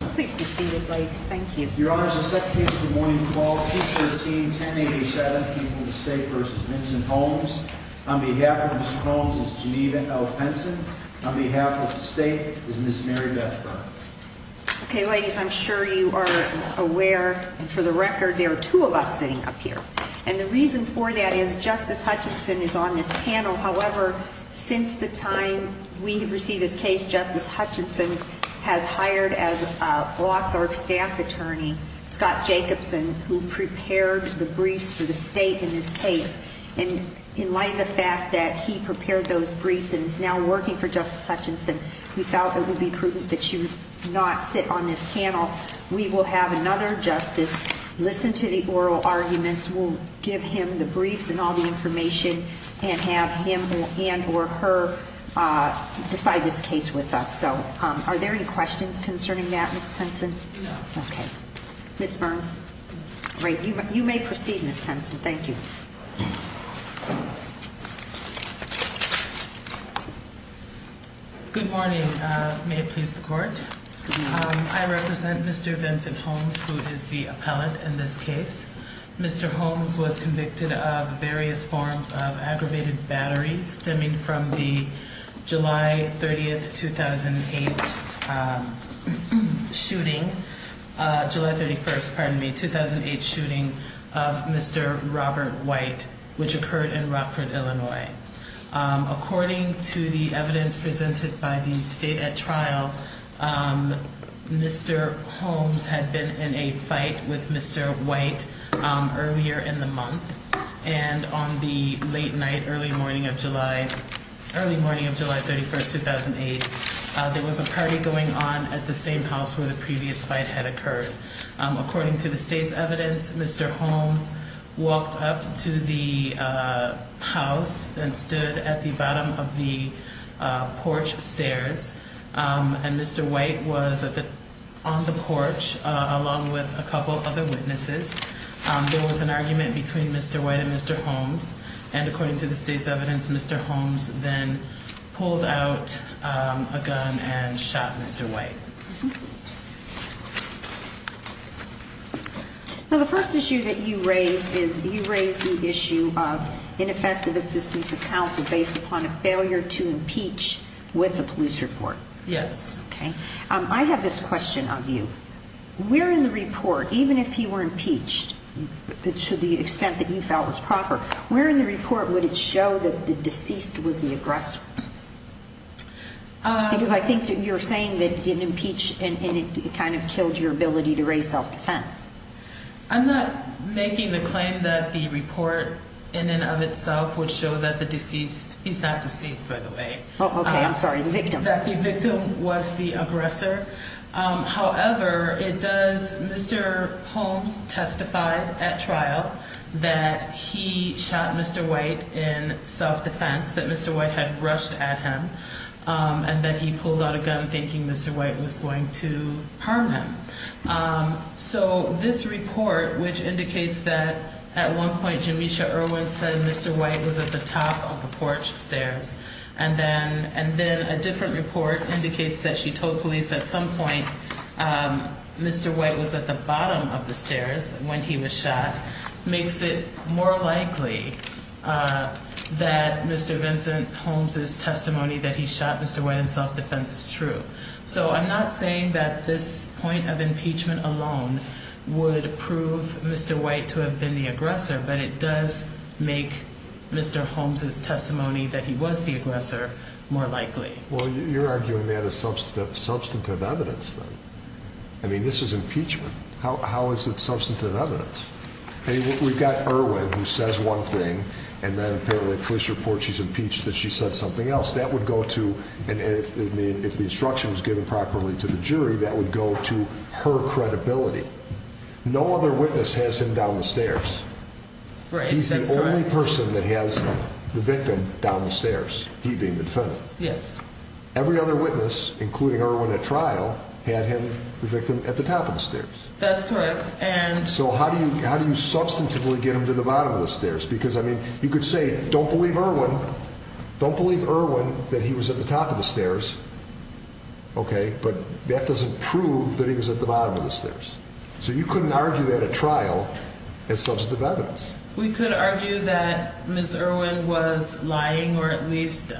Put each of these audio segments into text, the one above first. Please be seated, ladies. Thank you. Your Honor, the second case of the morning is P13-1087, people of the state v. Vincent Holmes. On behalf of Mr. Holmes is Geneva L. Penson. On behalf of the state is Ms. Mary Beth Burns. Okay, ladies, I'm sure you are aware, for the record, there are two of us sitting up here. And the reason for that is Justice Hutchinson is on author of staff attorney, Scott Jacobson, who prepared the briefs for the state in this case. And in light of the fact that he prepared those briefs and is now working for Justice Hutchinson, we felt it would be prudent that you not sit on this panel. We will have another justice listen to the oral arguments. We'll give him the briefs and all the information and have him and or her decide this case with us. So are there any questions concerning that, Ms. Penson? No. Okay. Ms. Burns? Great. You may proceed, Ms. Penson. Thank you. Good morning. May it please the court? Good morning. I represent Mr. Vincent Holmes, who is the appellate in this case. Mr. Holmes was convicted of various forms of aggravated battery, stemming from the July 30th, 2008 shooting, July 31st, pardon me, 2008 shooting of Mr. Robert White, which occurred in Rockford, Illinois. According to the evidence presented by the state at trial, Mr. Holmes had been in a fight with Mr. White earlier in the month. And on the late night, early morning of July, early morning of July 31st, 2008, there was a party going on at the same house where the previous fight had occurred. According to the state's evidence, Mr. Holmes walked up to the house and stood at the bottom of the porch stairs. And Mr. White was on the porch along with a couple other witnesses. There was an argument between Mr. White and Mr. Holmes. And according to the state's evidence, Mr. Holmes then pulled out a gun and shot Mr. White. Now, the first issue that you raise is you raise the issue of ineffective assistance of counsel based upon a failure to impeach with a police report. Yes. Okay. I have this question of you. Where in the report, even if he were impeached to the extent that you felt was proper, where in the report would it show that the deceased was the aggressor? Because I think that you're saying that he didn't impeach and it kind of killed your ability to raise self-defense. I'm not making the claim that the report in and of itself would show that the deceased, he's not deceased by the way. Oh, okay. I'm sorry. The victim. That the victim was the Mr. Holmes testified at trial that he shot Mr. White in self-defense, that Mr. White had rushed at him and that he pulled out a gun thinking Mr. White was going to harm him. So this report, which indicates that at one point, Jamisha Irwin said, Mr. White was at the top of the porch stairs. And then, and then a different report indicates that she told police at some point, Mr. White was at the bottom of the stairs when he was shot makes it more likely that Mr. Vincent Holmes's testimony that he shot Mr. White in self-defense is true. So I'm not saying that this point of impeachment alone would prove Mr. White to have been the aggressor, but it does make Mr. Holmes's testimony that he was the aggressor more likely. Well, you're arguing that as substantive, substantive evidence. I mean, this is impeachment. How, how is it substantive evidence? Hey, we've got Irwin who says one thing and then apparently police report, she's impeached that she said something else that would go to. And if the, if the instruction was given properly to the jury, that would go to her credibility. No other witness has him down the stairs. So how do you, how do you substantively get him to the bottom of the stairs? Because I mean, you could say, don't believe Irwin. Don't believe Irwin that he was at the top of the stairs. Okay. But that doesn't prove that he was at the bottom of the stairs. So you couldn't argue that a trial is substantive evidence. We could argue that Ms. Irwin was lying or at least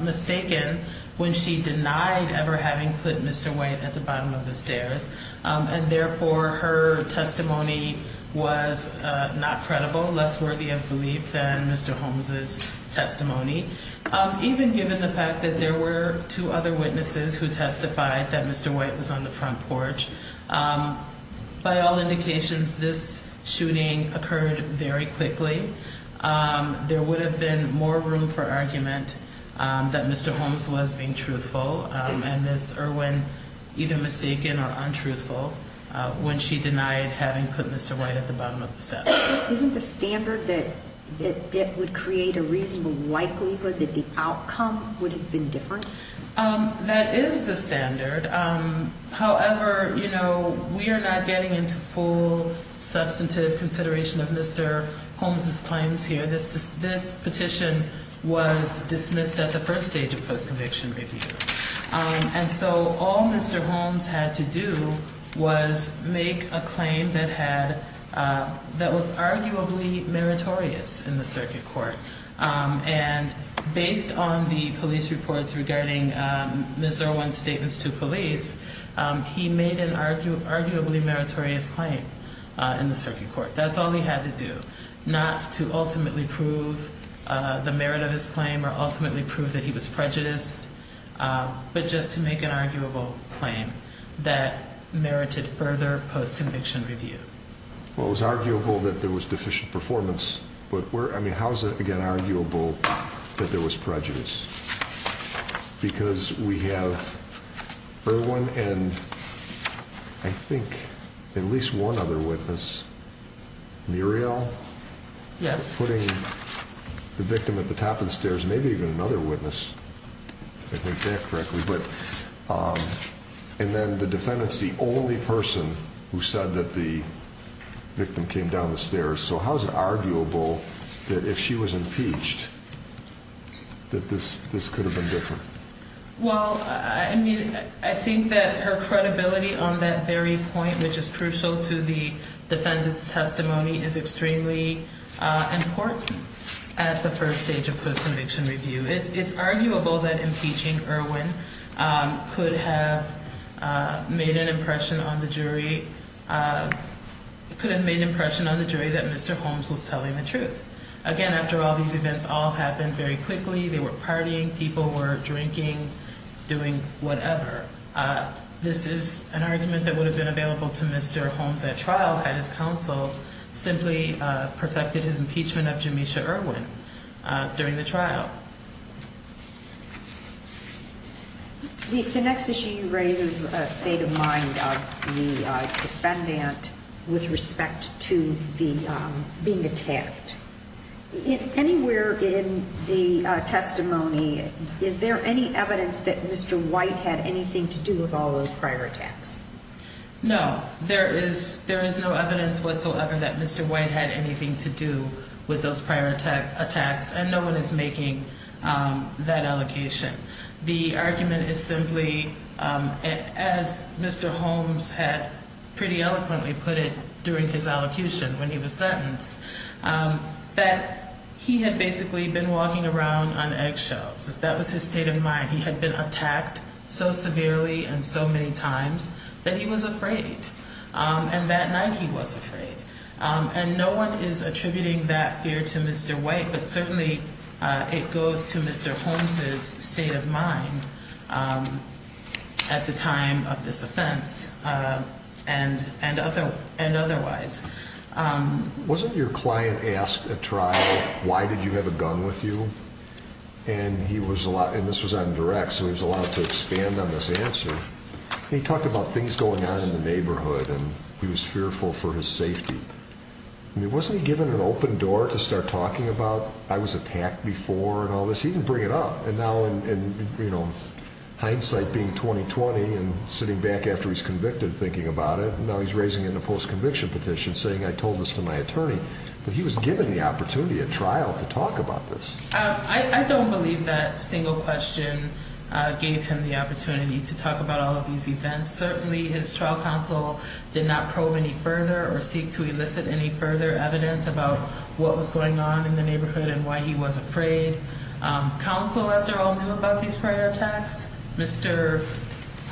mistaken when she denied ever having put Mr. White at the bottom of the stairs. And therefore her testimony was not credible, less worthy of belief than Mr. Holmes's testimony. Even given the fact that there were two other witnesses who testified that Mr. White was on the front porch, by all indications, this shooting occurred very quickly. There would have been more room for argument that Mr. Holmes was being truthful and Ms. Irwin either mistaken or untruthful when she denied having put Mr. White at the bottom of the stairs. Isn't the standard that that would create a reasonable likelihood that the outcome would have been different? That is the standard. However, you know, we are not getting into full substantive consideration of Mr. Holmes's claims here. This petition was dismissed at the first stage of post-conviction review. And so all Mr. Holmes had to do was make a claim that had, that was arguably meritorious in the circuit court. And based on the police reports regarding Ms. Irwin's statements to police, he made an arguably meritorious claim in the circuit court. That's all he had to do, not to ultimately prove the merit of his claim or ultimately prove that he was prejudiced, but just to make an arguable claim that merited further post-conviction review. Well, it was arguable that there was deficient performance, but where, I mean, how is it again, arguable that there was prejudice? Because we have Irwin and I think at least one other witness, Muriel? Yes. Putting the victim at the top of the stairs, maybe even another witness, if I think that correctly. But, and then the defendants, the only person who said that the victim came down the stairs. So how's it arguable that if she was impeached, that this, this could have been different? Well, I mean, I think that her credibility on that very point, which is crucial to the defendant's testimony is extremely important at the first stage of post-conviction review. It's arguable that impeaching Irwin could have made an impression on the jury. It could have made an impression on the jury that Mr. Holmes was telling the truth. Again, after all these events all happened very quickly, they were partying, people were drinking, doing whatever. This is an argument that would have been available to Mr. Holmes at trial had his counsel simply perfected his impeachment of Jamesha Irwin during the trial. The next issue you raise is a state of mind of the defendant with respect to the, being attacked. Anywhere in the testimony, is there any evidence that Mr. White had anything to do with all those prior attacks? No, there is, there is no evidence whatsoever that Mr. White had anything to do with those prior attacks and no one is making that allocation. The argument is simply, as Mr. Holmes had pretty eloquently put it during his allocution when he was sentenced, that he had basically been walking around on eggshells. That was his state of mind. He had been attacked so severely and so many times that he was afraid. And that night he was afraid. And no one is attributing that fear to Mr. White, but certainly it goes to Mr. Holmes's state of mind at the time of this offense and otherwise. Wasn't your client asked at trial, why did you have a gun with you? And he was allowed, and this was on direct, so he was allowed to expand on this answer. He talked about things going on in the neighborhood and he was fearful for his safety. I mean, wasn't he given an open door to start talking about, I was attacked before and all this? He didn't bring it up. And now in hindsight being 20-20 and sitting back after he's convicted, thinking about it, now he's raising it in a post-conviction petition saying, I told this to my attorney, but he was given the opportunity at trial to talk about this. I don't believe that single question gave him the opportunity to talk about all of these events. Certainly his trial counsel did not probe any further or seek to elicit any further evidence about what was going on in the neighborhood and why he was afraid. Counsel, after all, knew about these prior attacks. Mr.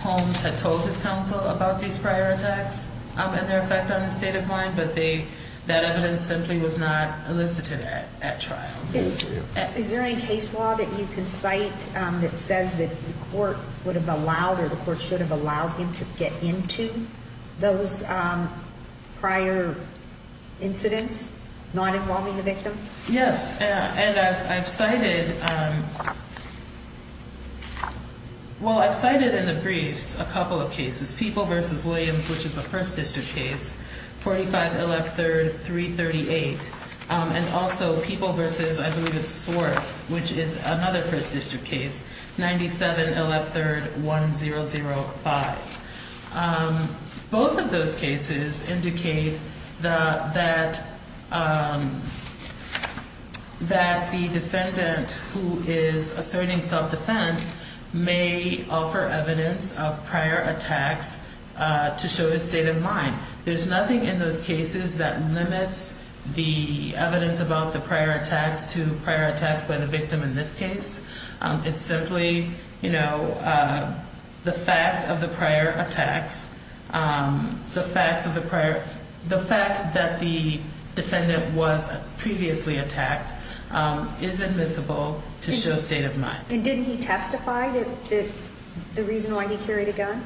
Holmes had told his counsel about these prior attacks and their effect on his state of mind, but that evidence simply was not elicited at trial. Is there any case law that you can cite that says that the court would have allowed or the court should have allowed him to get into those prior incidents, not involving the victim? Yes. And I've cited, well, I've cited in the briefs a couple of cases. People v. Williams, which is a 1st District case, 45 LF 3rd, 338. And also People v. I believe it's Swarth, which is another 1st District case, 97 LF 3rd, 1005. Both of those cases indicate that the defendant who is asserting self-defense may offer evidence of prior attacks to show his state of mind. There's nothing in those cases that limits the evidence about the prior attacks to by the victim in this case. It's simply, you know, the fact of the prior attacks, the fact that the defendant was previously attacked is admissible to show state of mind. And didn't he testify that the reason why he carried a gun?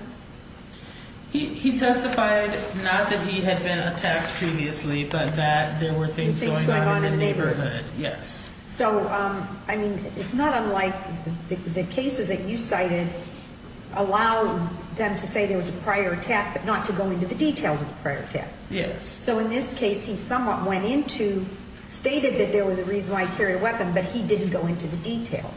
He testified not that he had been attacked previously, but that there were things going on in the neighborhood. Yes. So, I mean, it's not unlike the cases that you cited allow them to say there was a prior attack, but not to go into the details of the prior attack. Yes. So in this case, he somewhat went into, stated that there was a reason why he carried a weapon, but he didn't go into the detail.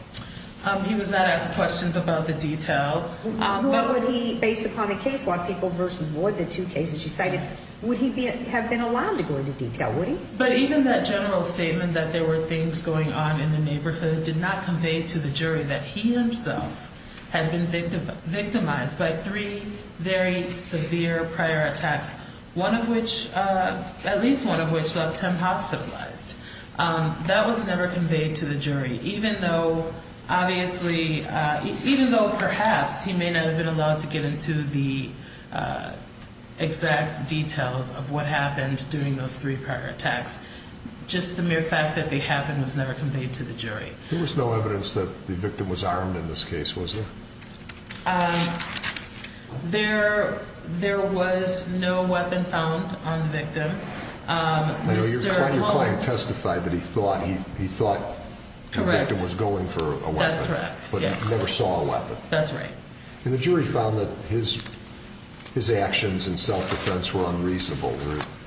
He was not asked questions about the detail. What would he, based upon the case law, People v. Wood, the two cases you cited, would he have been allowed to go into detail, would he? But even that general statement that there were things going on in the neighborhood did not convey to the jury that he himself had been victimized by three very severe prior attacks, one of which, at least one of which left him hospitalized. That was never conveyed to the jury, even though, obviously, even though perhaps he may not have been allowed to get into the exact details of what happened during those three prior attacks, just the mere fact that they happened was never conveyed to the jury. There was no evidence that the victim was armed in this case, was there? There was no weapon found on the victim. Your client testified that he thought the victim was going for a weapon, but never saw a weapon. That's right. And the jury found that his actions in self-defense were unreasonable,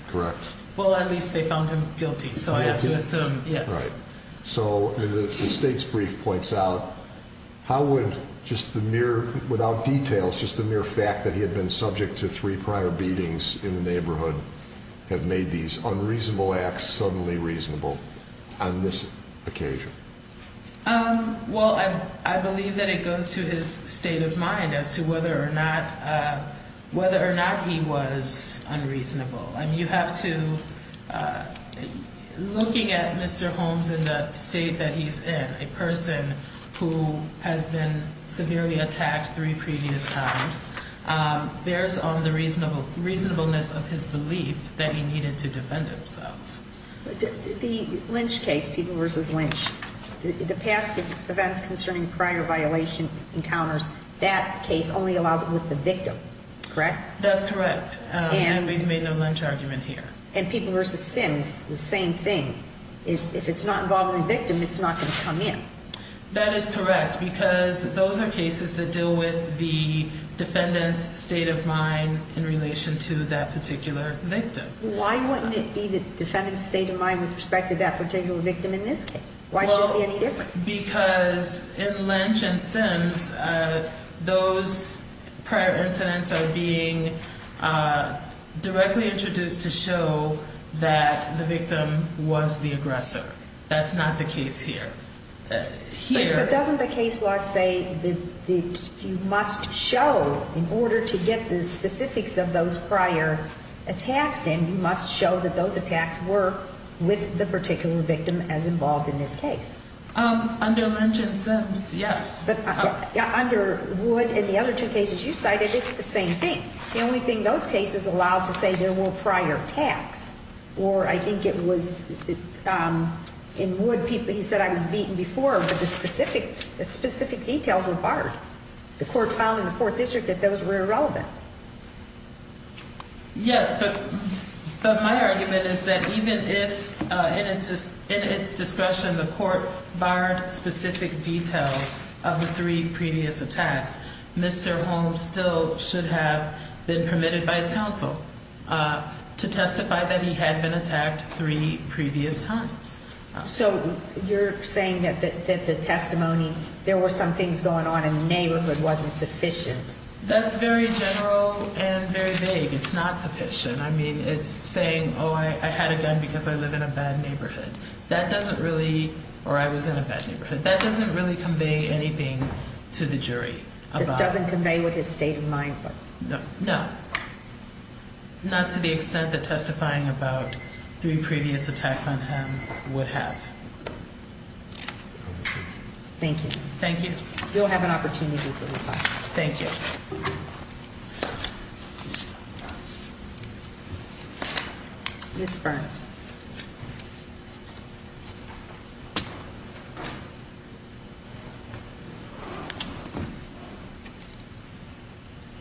correct? Well, at least they found him guilty, so I have to assume, yes. Right. So the state's brief points out, how would just the mere, without details, just the mere fact that he had been subject to three prior beatings in the neighborhood have made these unreasonable acts suddenly reasonable on this occasion? Well, I believe that it goes to his state of mind as to whether or not, whether or not he was unreasonable. I mean, you have to, looking at Mr. Holmes in the state that he's in, a person who has been severely attacked three previous times, bears on the reasonable, reasonableness of his belief that he needed to defend himself. The Lynch case, People v. Lynch, the past events concerning prior violation encounters, that case only allows it with the victim, correct? That's correct. And we've made no Lynch argument here. And People v. Sims, the same thing. If it's not involving the victim, it's not going to come in. That is correct, because those are cases that deal with the defendant's state of mind in relation to that particular victim. Why wouldn't it be the defendant's state of mind with respect to that particular victim in this case? Why should it be any different? Because in Lynch and Sims, those prior incidents are being directly introduced to show that the victim was the aggressor. That's not the case here. But doesn't the case law say that you must show, in order to get the specifics of those prior attacks in, you must show that those attacks were with the particular victim as involved in this case? Under Lynch and Sims, yes. Under Wood and the other two cases you cited, it's the same thing. The only thing those cases allowed to say there were prior attacks, or I think it was in Wood, he said, I was beaten before, but the specific details were barred. The court found in the Fourth District that those were irrelevant. Yes, but my argument is that even if, in its discretion, the court barred specific details of the three previous attacks, Mr. Holmes still should have been permitted by his counsel to testify that he had been attacked three previous times. So you're saying that the testimony, there were some things going on in the neighborhood wasn't sufficient? That's very general and very vague. It's not sufficient. I mean, it's saying, oh, I had a gun because I live in a bad neighborhood. That doesn't really, or I was in a bad neighborhood. That doesn't really convey anything to the jury. It doesn't convey what his state of mind was? No, not to the extent that testifying about three previous attacks on him would have. Thank you. Thank you. You'll have an opportunity to reply. Thank you. Ms. Burns.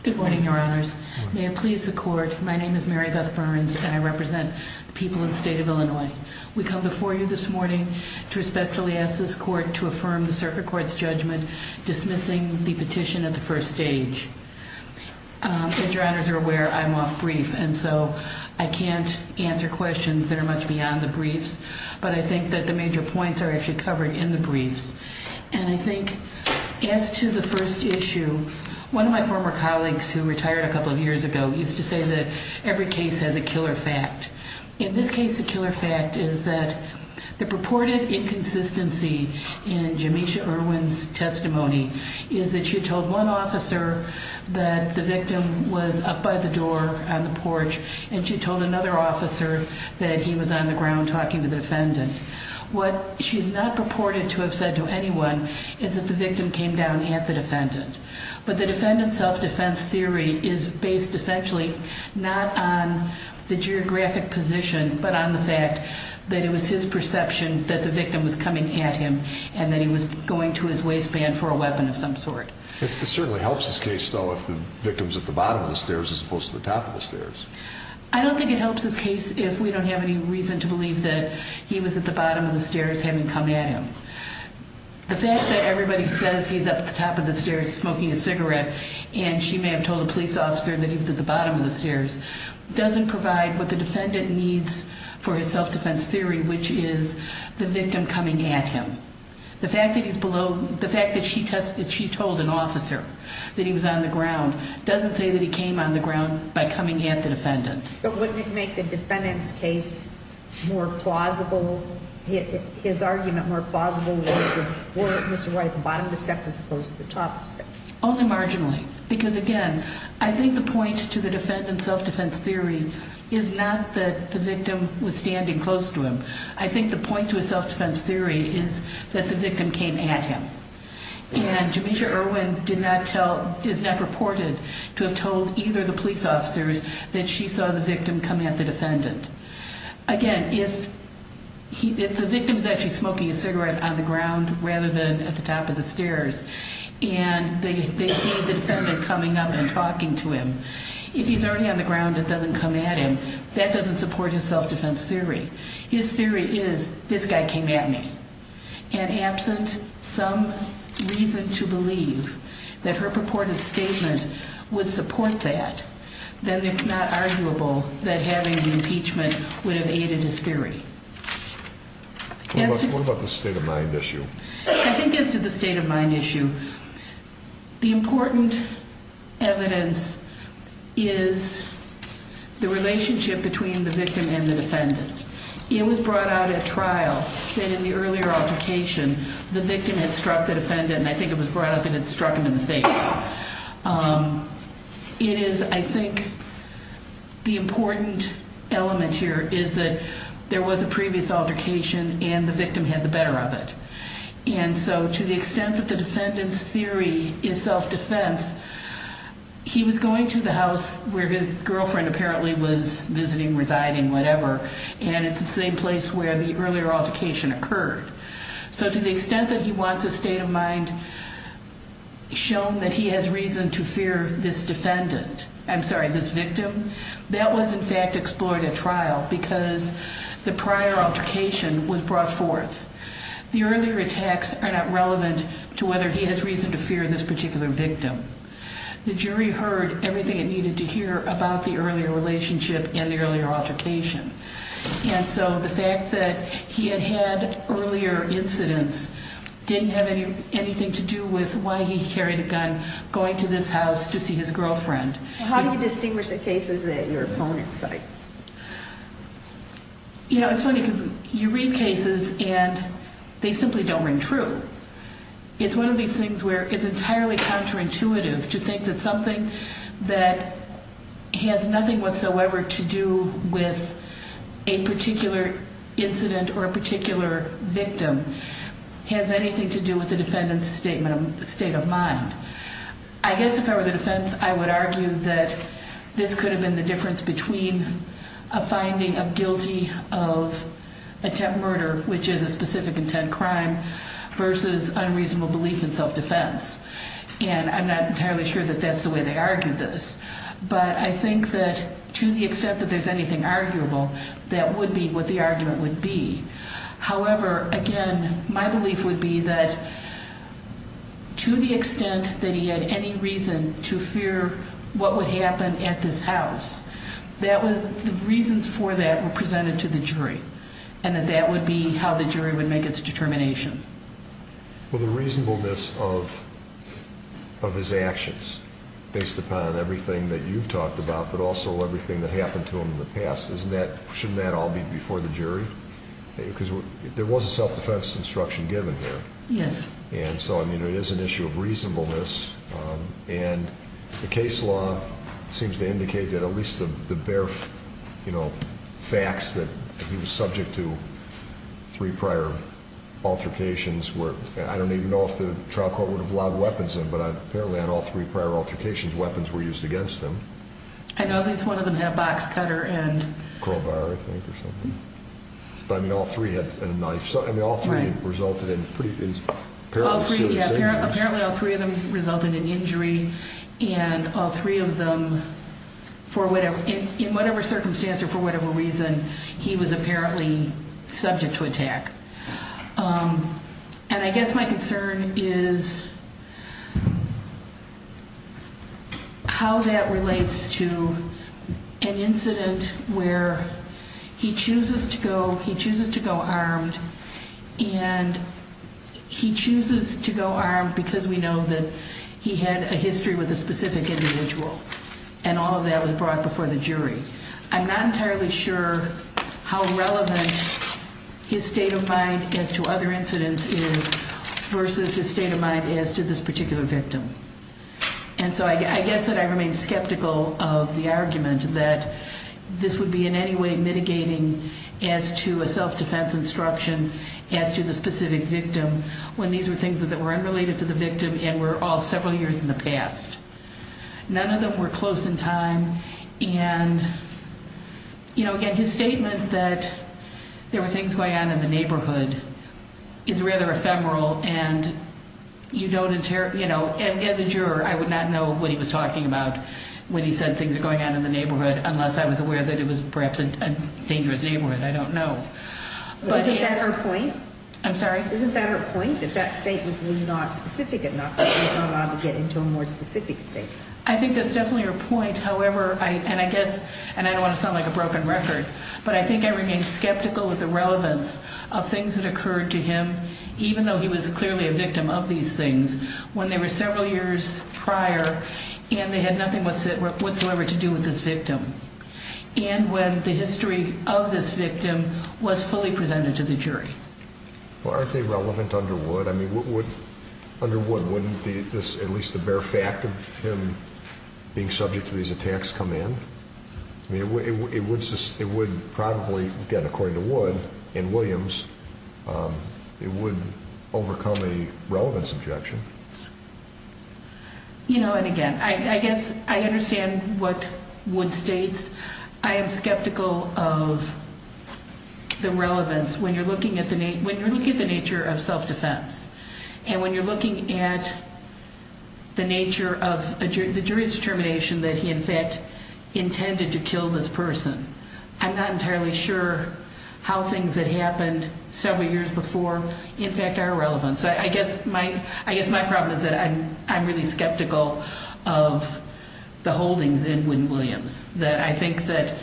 Good morning, Your Honors. May it please the court, my name is Marybeth Burns, and I represent the people of the state of Illinois. We come before you this morning to respectfully ask this court to affirm the circuit court's dismissing the petition at the first stage. As Your Honors are aware, I'm off brief, and so I can't answer questions that are much beyond the briefs. But I think that the major points are actually covered in the briefs. And I think as to the first issue, one of my former colleagues who retired a couple of years ago used to say that every case has a killer fact. In this case, the killer fact is that the purported inconsistency in Jamesha Irwin's testimony is that she told one officer that the victim was up by the door on the porch, and she told another officer that he was on the ground talking to the defendant. What she's not purported to have said to anyone is that the victim came down at the defendant. But the defendant's self-defense theory is based essentially not on the geographic position, but on the fact that it was his perception that the victim was coming at him and that he was going to his waistband for a weapon of some sort. It certainly helps this case, though, if the victim's at the bottom of the stairs as opposed to the top of the stairs. I don't think it helps this case if we don't have any reason to believe that he was at the bottom of the stairs having come at him. The fact that everybody says he's at the top of the stairs smoking a cigarette and she may have told a police officer that he was at the bottom of the stairs doesn't provide what the defendant needs for his self-defense theory, which is the victim coming at him. The fact that he's below, the fact that she told an officer that he was on the ground doesn't say that he came on the ground by coming at the defendant. But wouldn't it make the defendant's case more plausible, his argument more plausible were Mr. Wright at the bottom of the stairs as opposed to the top of the stairs? Only marginally. Because again, I think the point to the defendant's self-defense theory is not that the victim was standing close to him. I think the point to his self-defense theory is that the victim came at him. And Jamesha Irwin did not tell, is not reported to have told either of the police officers that she saw the victim come at the defendant. Again, if the victim is actually smoking a cigarette on the ground rather than at the top of the stairs and they see the defendant coming up and talking to him, if he's already on the ground and doesn't come at him, that doesn't support his self-defense theory. His theory is this guy came at me. And absent some reason to believe that her purported statement would support that, then it's not arguable that having an impeachment would have aided his theory. What about the state of mind issue? I think as to the state of mind issue, the important evidence is the relationship between the victim and the defendant. It was brought out at trial that in the earlier altercation, the victim had struck the defendant and I think it was brought up that it struck him in the face. It is, I think the important element here is that there was a previous altercation and the victim had the better of it. And so to the extent that the defendant's theory is self-defense, he was going to the house where his girlfriend apparently was visiting, residing, whatever, and it's the same place where the earlier altercation occurred. So to the extent that he wants a state of mind shown that he has reason to fear this defendant, I'm sorry, this victim, that was in fact explored at trial because the prior altercation was brought forth. The earlier attacks are not relevant to whether he has reason to fear this particular victim. The jury heard everything it needed to hear about the earlier relationship and the earlier altercation. And so the fact that he had had earlier incidents didn't have anything to do with why he carried a gun going to this house to see his girlfriend. How do you distinguish the cases that your opponent cites? You know, it's funny because you read cases and they simply don't ring true. It's one of these things where it's entirely counterintuitive to think that something that has nothing whatsoever to do with a particular incident or a particular victim has anything to do with the defendant's state of mind. I guess if I were the defense, I would argue that this could have been the difference between a finding of guilty of attempt murder, which is a specific intent crime, versus unreasonable belief in self-defense. And I'm not entirely sure that that's the way they argued this. But I think that to the extent that there's anything arguable, that would be what the argument would be. However, again, my belief would be that to the extent that he had any reason to fear what would happen at this house, that was the reasons for that were presented to the jury and that that would be how the jury would make its determination. Well, the reasonableness of his actions, based upon everything that you've talked about, but also everything that happened to him in the past, shouldn't that all be before the jury? Because there was a self-defense instruction given here. Yes. And so, I mean, it is an issue of reasonableness. And the case law seems to indicate that at least the bare facts that he was subject to three prior altercations were... I don't even know if the trial court would have allowed weapons in, but apparently on all three prior altercations, weapons were used against him. I know at least one of them had a box cutter and... Crowbar, I think, or something. But, I mean, all three had a knife. So, I mean, all three resulted in pretty... Apparently, all three of them resulted in injury. And all three of them, in whatever circumstance or for whatever reason, he was apparently subject to attack. And I guess my concern is how that relates to an incident where he chooses to go armed and he chooses to go armed because we know that he had a history with a specific individual. And all of that was brought before the jury. I'm not entirely sure how relevant his state of mind as to other incidents is versus his state of mind as to this particular victim. And so, I guess that I remain skeptical of the argument that this would be in any way mitigating as to a self-defense instruction as to the specific victim when these were things that were unrelated to the victim and were all several years in the past. None of them were close in time. And, you know, again, his statement that there were things going on in the neighborhood is rather ephemeral. And, you know, as a juror, I would not know what he was talking about when he said things are going on in the neighborhood unless I was aware that it was perhaps a dangerous neighborhood. I don't know. But... Isn't that her point? I'm sorry? Isn't that her point? That that statement was not specific enough. That he was not allowed to get into a more specific statement. I think that's definitely her point. However, and I guess, and I don't want to sound like a broken record, but I think I remain skeptical of the relevance of things that occurred to him even though he was clearly a victim of these things when they were several years prior and they had nothing whatsoever to do with this victim. And when the history of this victim was fully presented to the jury. Well, aren't they relevant under Wood? I mean, under Wood, wouldn't this, at least the bare fact of him being subject to these attacks come in? I mean, it would probably, again, according to Wood and Williams, it would overcome a relevance objection. You know, and again, I guess I understand what Wood states. I am skeptical of the relevance when you're looking at the nature of self-defense and when you're looking at the nature of the jury's determination that he, in fact, intended to kill this person. I'm not entirely sure how things that happened several years before, in fact, are relevant. So I guess my problem is that I'm really skeptical of the holdings in Wood and Williams that I think that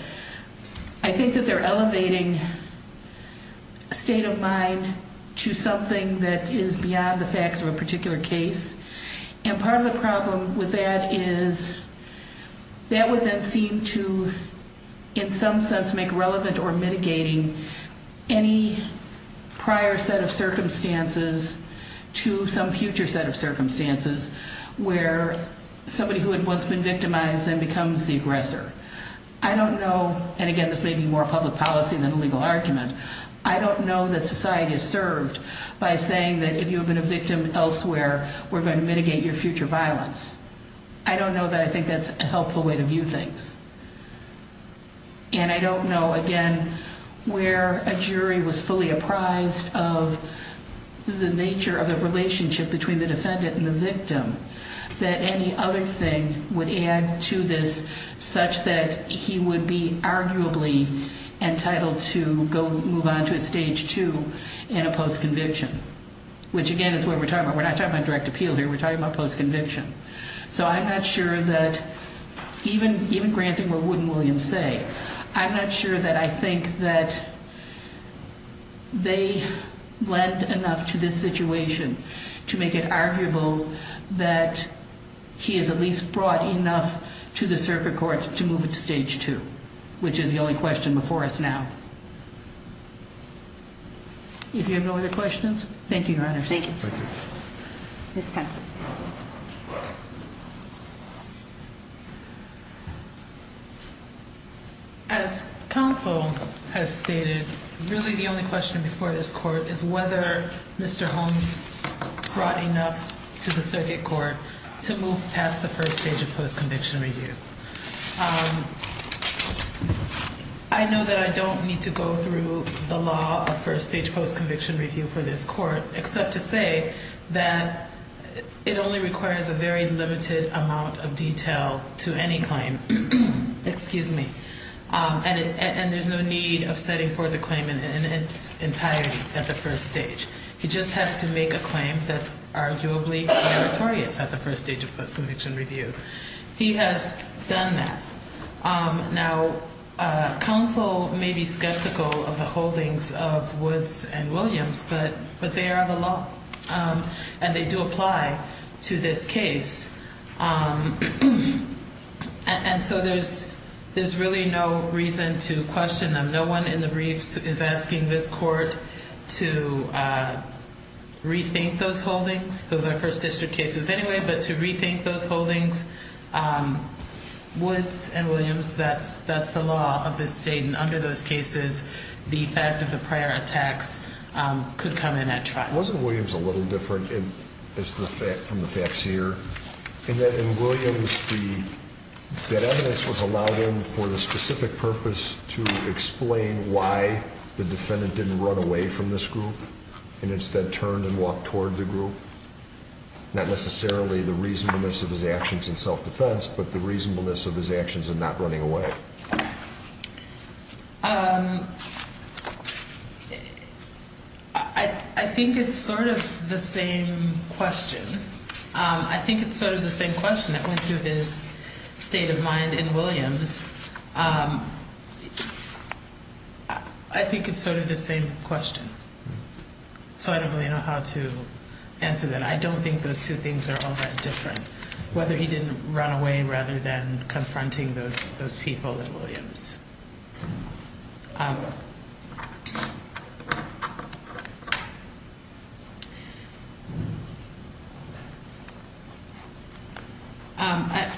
they're elevating a state of mind to something that is beyond the facts of a particular case. And part of the problem with that is that would then seem to, in some sense, make relevant or mitigating any prior set of circumstances to some future set of circumstances where somebody who had once been victimized then becomes the aggressor. I don't know. And again, this may be more public policy than a legal argument. I don't know that society is served by saying that if you have been a victim elsewhere, we're going to mitigate your future violence. I don't know that I think that's a helpful way to view things. And I don't know, again, where a jury was fully apprised of the nature of the relationship between the defendant and the victim that any other thing would add to this such that he would be arguably entitled to move on to a stage two in a post-conviction, which, again, is what we're talking about. We're not talking about direct appeal here. We're talking about post-conviction. So I'm not sure that even granting what Wood and Williams say, I'm not sure that I think that they lent enough to this situation to make it arguable that he is at least brought enough to the circuit court to move it to stage two, which is the only question before us now. If you have no other questions, thank you, Your Honors. Thank you. Ms. Pence. As counsel has stated, really the only question before this court is whether Mr. Holmes brought enough to the circuit court to move past the first stage of post-conviction review. I know that I don't need to go through the law of first stage post-conviction review for this court except to say that it only requires a very limited amount of detail to any claim. Excuse me. And there's no need of setting forth a claim in its entirety at the first stage. He just has to make a claim that's arguably meritorious at the first stage of post-conviction review. He has done that. Now, counsel may be skeptical of the holdings of Woods and Williams, but they are the law, and they do apply to this case. And so there's really no reason to question them. No one in the briefs is asking this court to rethink those holdings. Those are first district cases anyway, but to rethink those holdings, Woods and Williams, that's the law of this state, and under those cases, the fact of the prior attacks could come in at trial. Wasn't Williams a little different from the facts here in that in Williams, that evidence was allowed in for the specific purpose to explain why the defendant didn't run away from this group and instead turned and walked toward the group? Not necessarily the reasonableness of his actions in self-defense, but the reasonableness of his actions in not running away. I think it's sort of the same question. I think it's sort of the same question that went through his state of mind in Williams. I think it's sort of the same question. So I don't really know how to answer that. I don't think those two things are all that different, whether he didn't run away rather than confronting those people in Williams.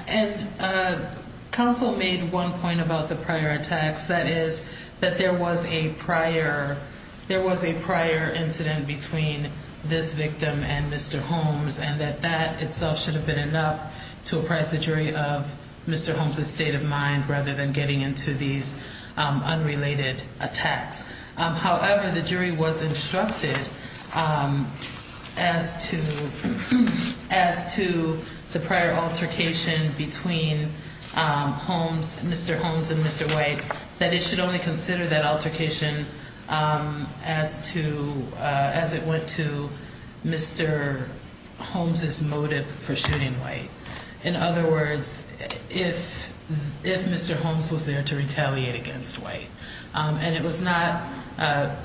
And counsel made one point about the prior attacks, that is, that there was a prior incident between this victim and Mr. Holmes, and that that itself should have been enough to apprise the jury of Mr. Holmes' state of mind rather than getting into these unrelated attacks. However, the jury was instructed as to the prior altercation between Mr. Holmes and Mr. White, that it should only consider that altercation as it went to Mr. Holmes' motive for shooting White. In other words, if Mr. Holmes was there to retaliate against White.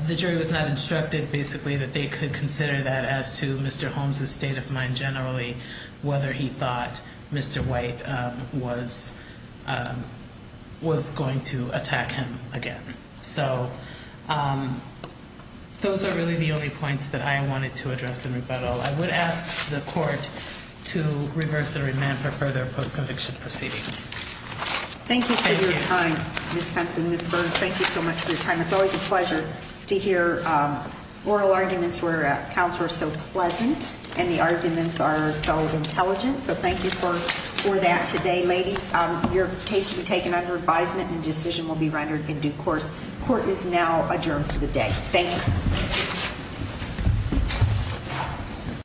The jury was not instructed, basically, that they could consider that as to Mr. White was going to attack him again. So those are really the only points that I wanted to address in rebuttal. I would ask the court to reverse and remand for further post-conviction proceedings. Thank you for your time, Ms. Fentz and Ms. Burns. Thank you so much for your time. It's always a pleasure to hear oral arguments where counsel are so pleasant, and the arguments are so intelligent. So thank you for that today, ladies. Your case will be taken under advisement and a decision will be rendered in due course. Court is now adjourned for the day. Thank you.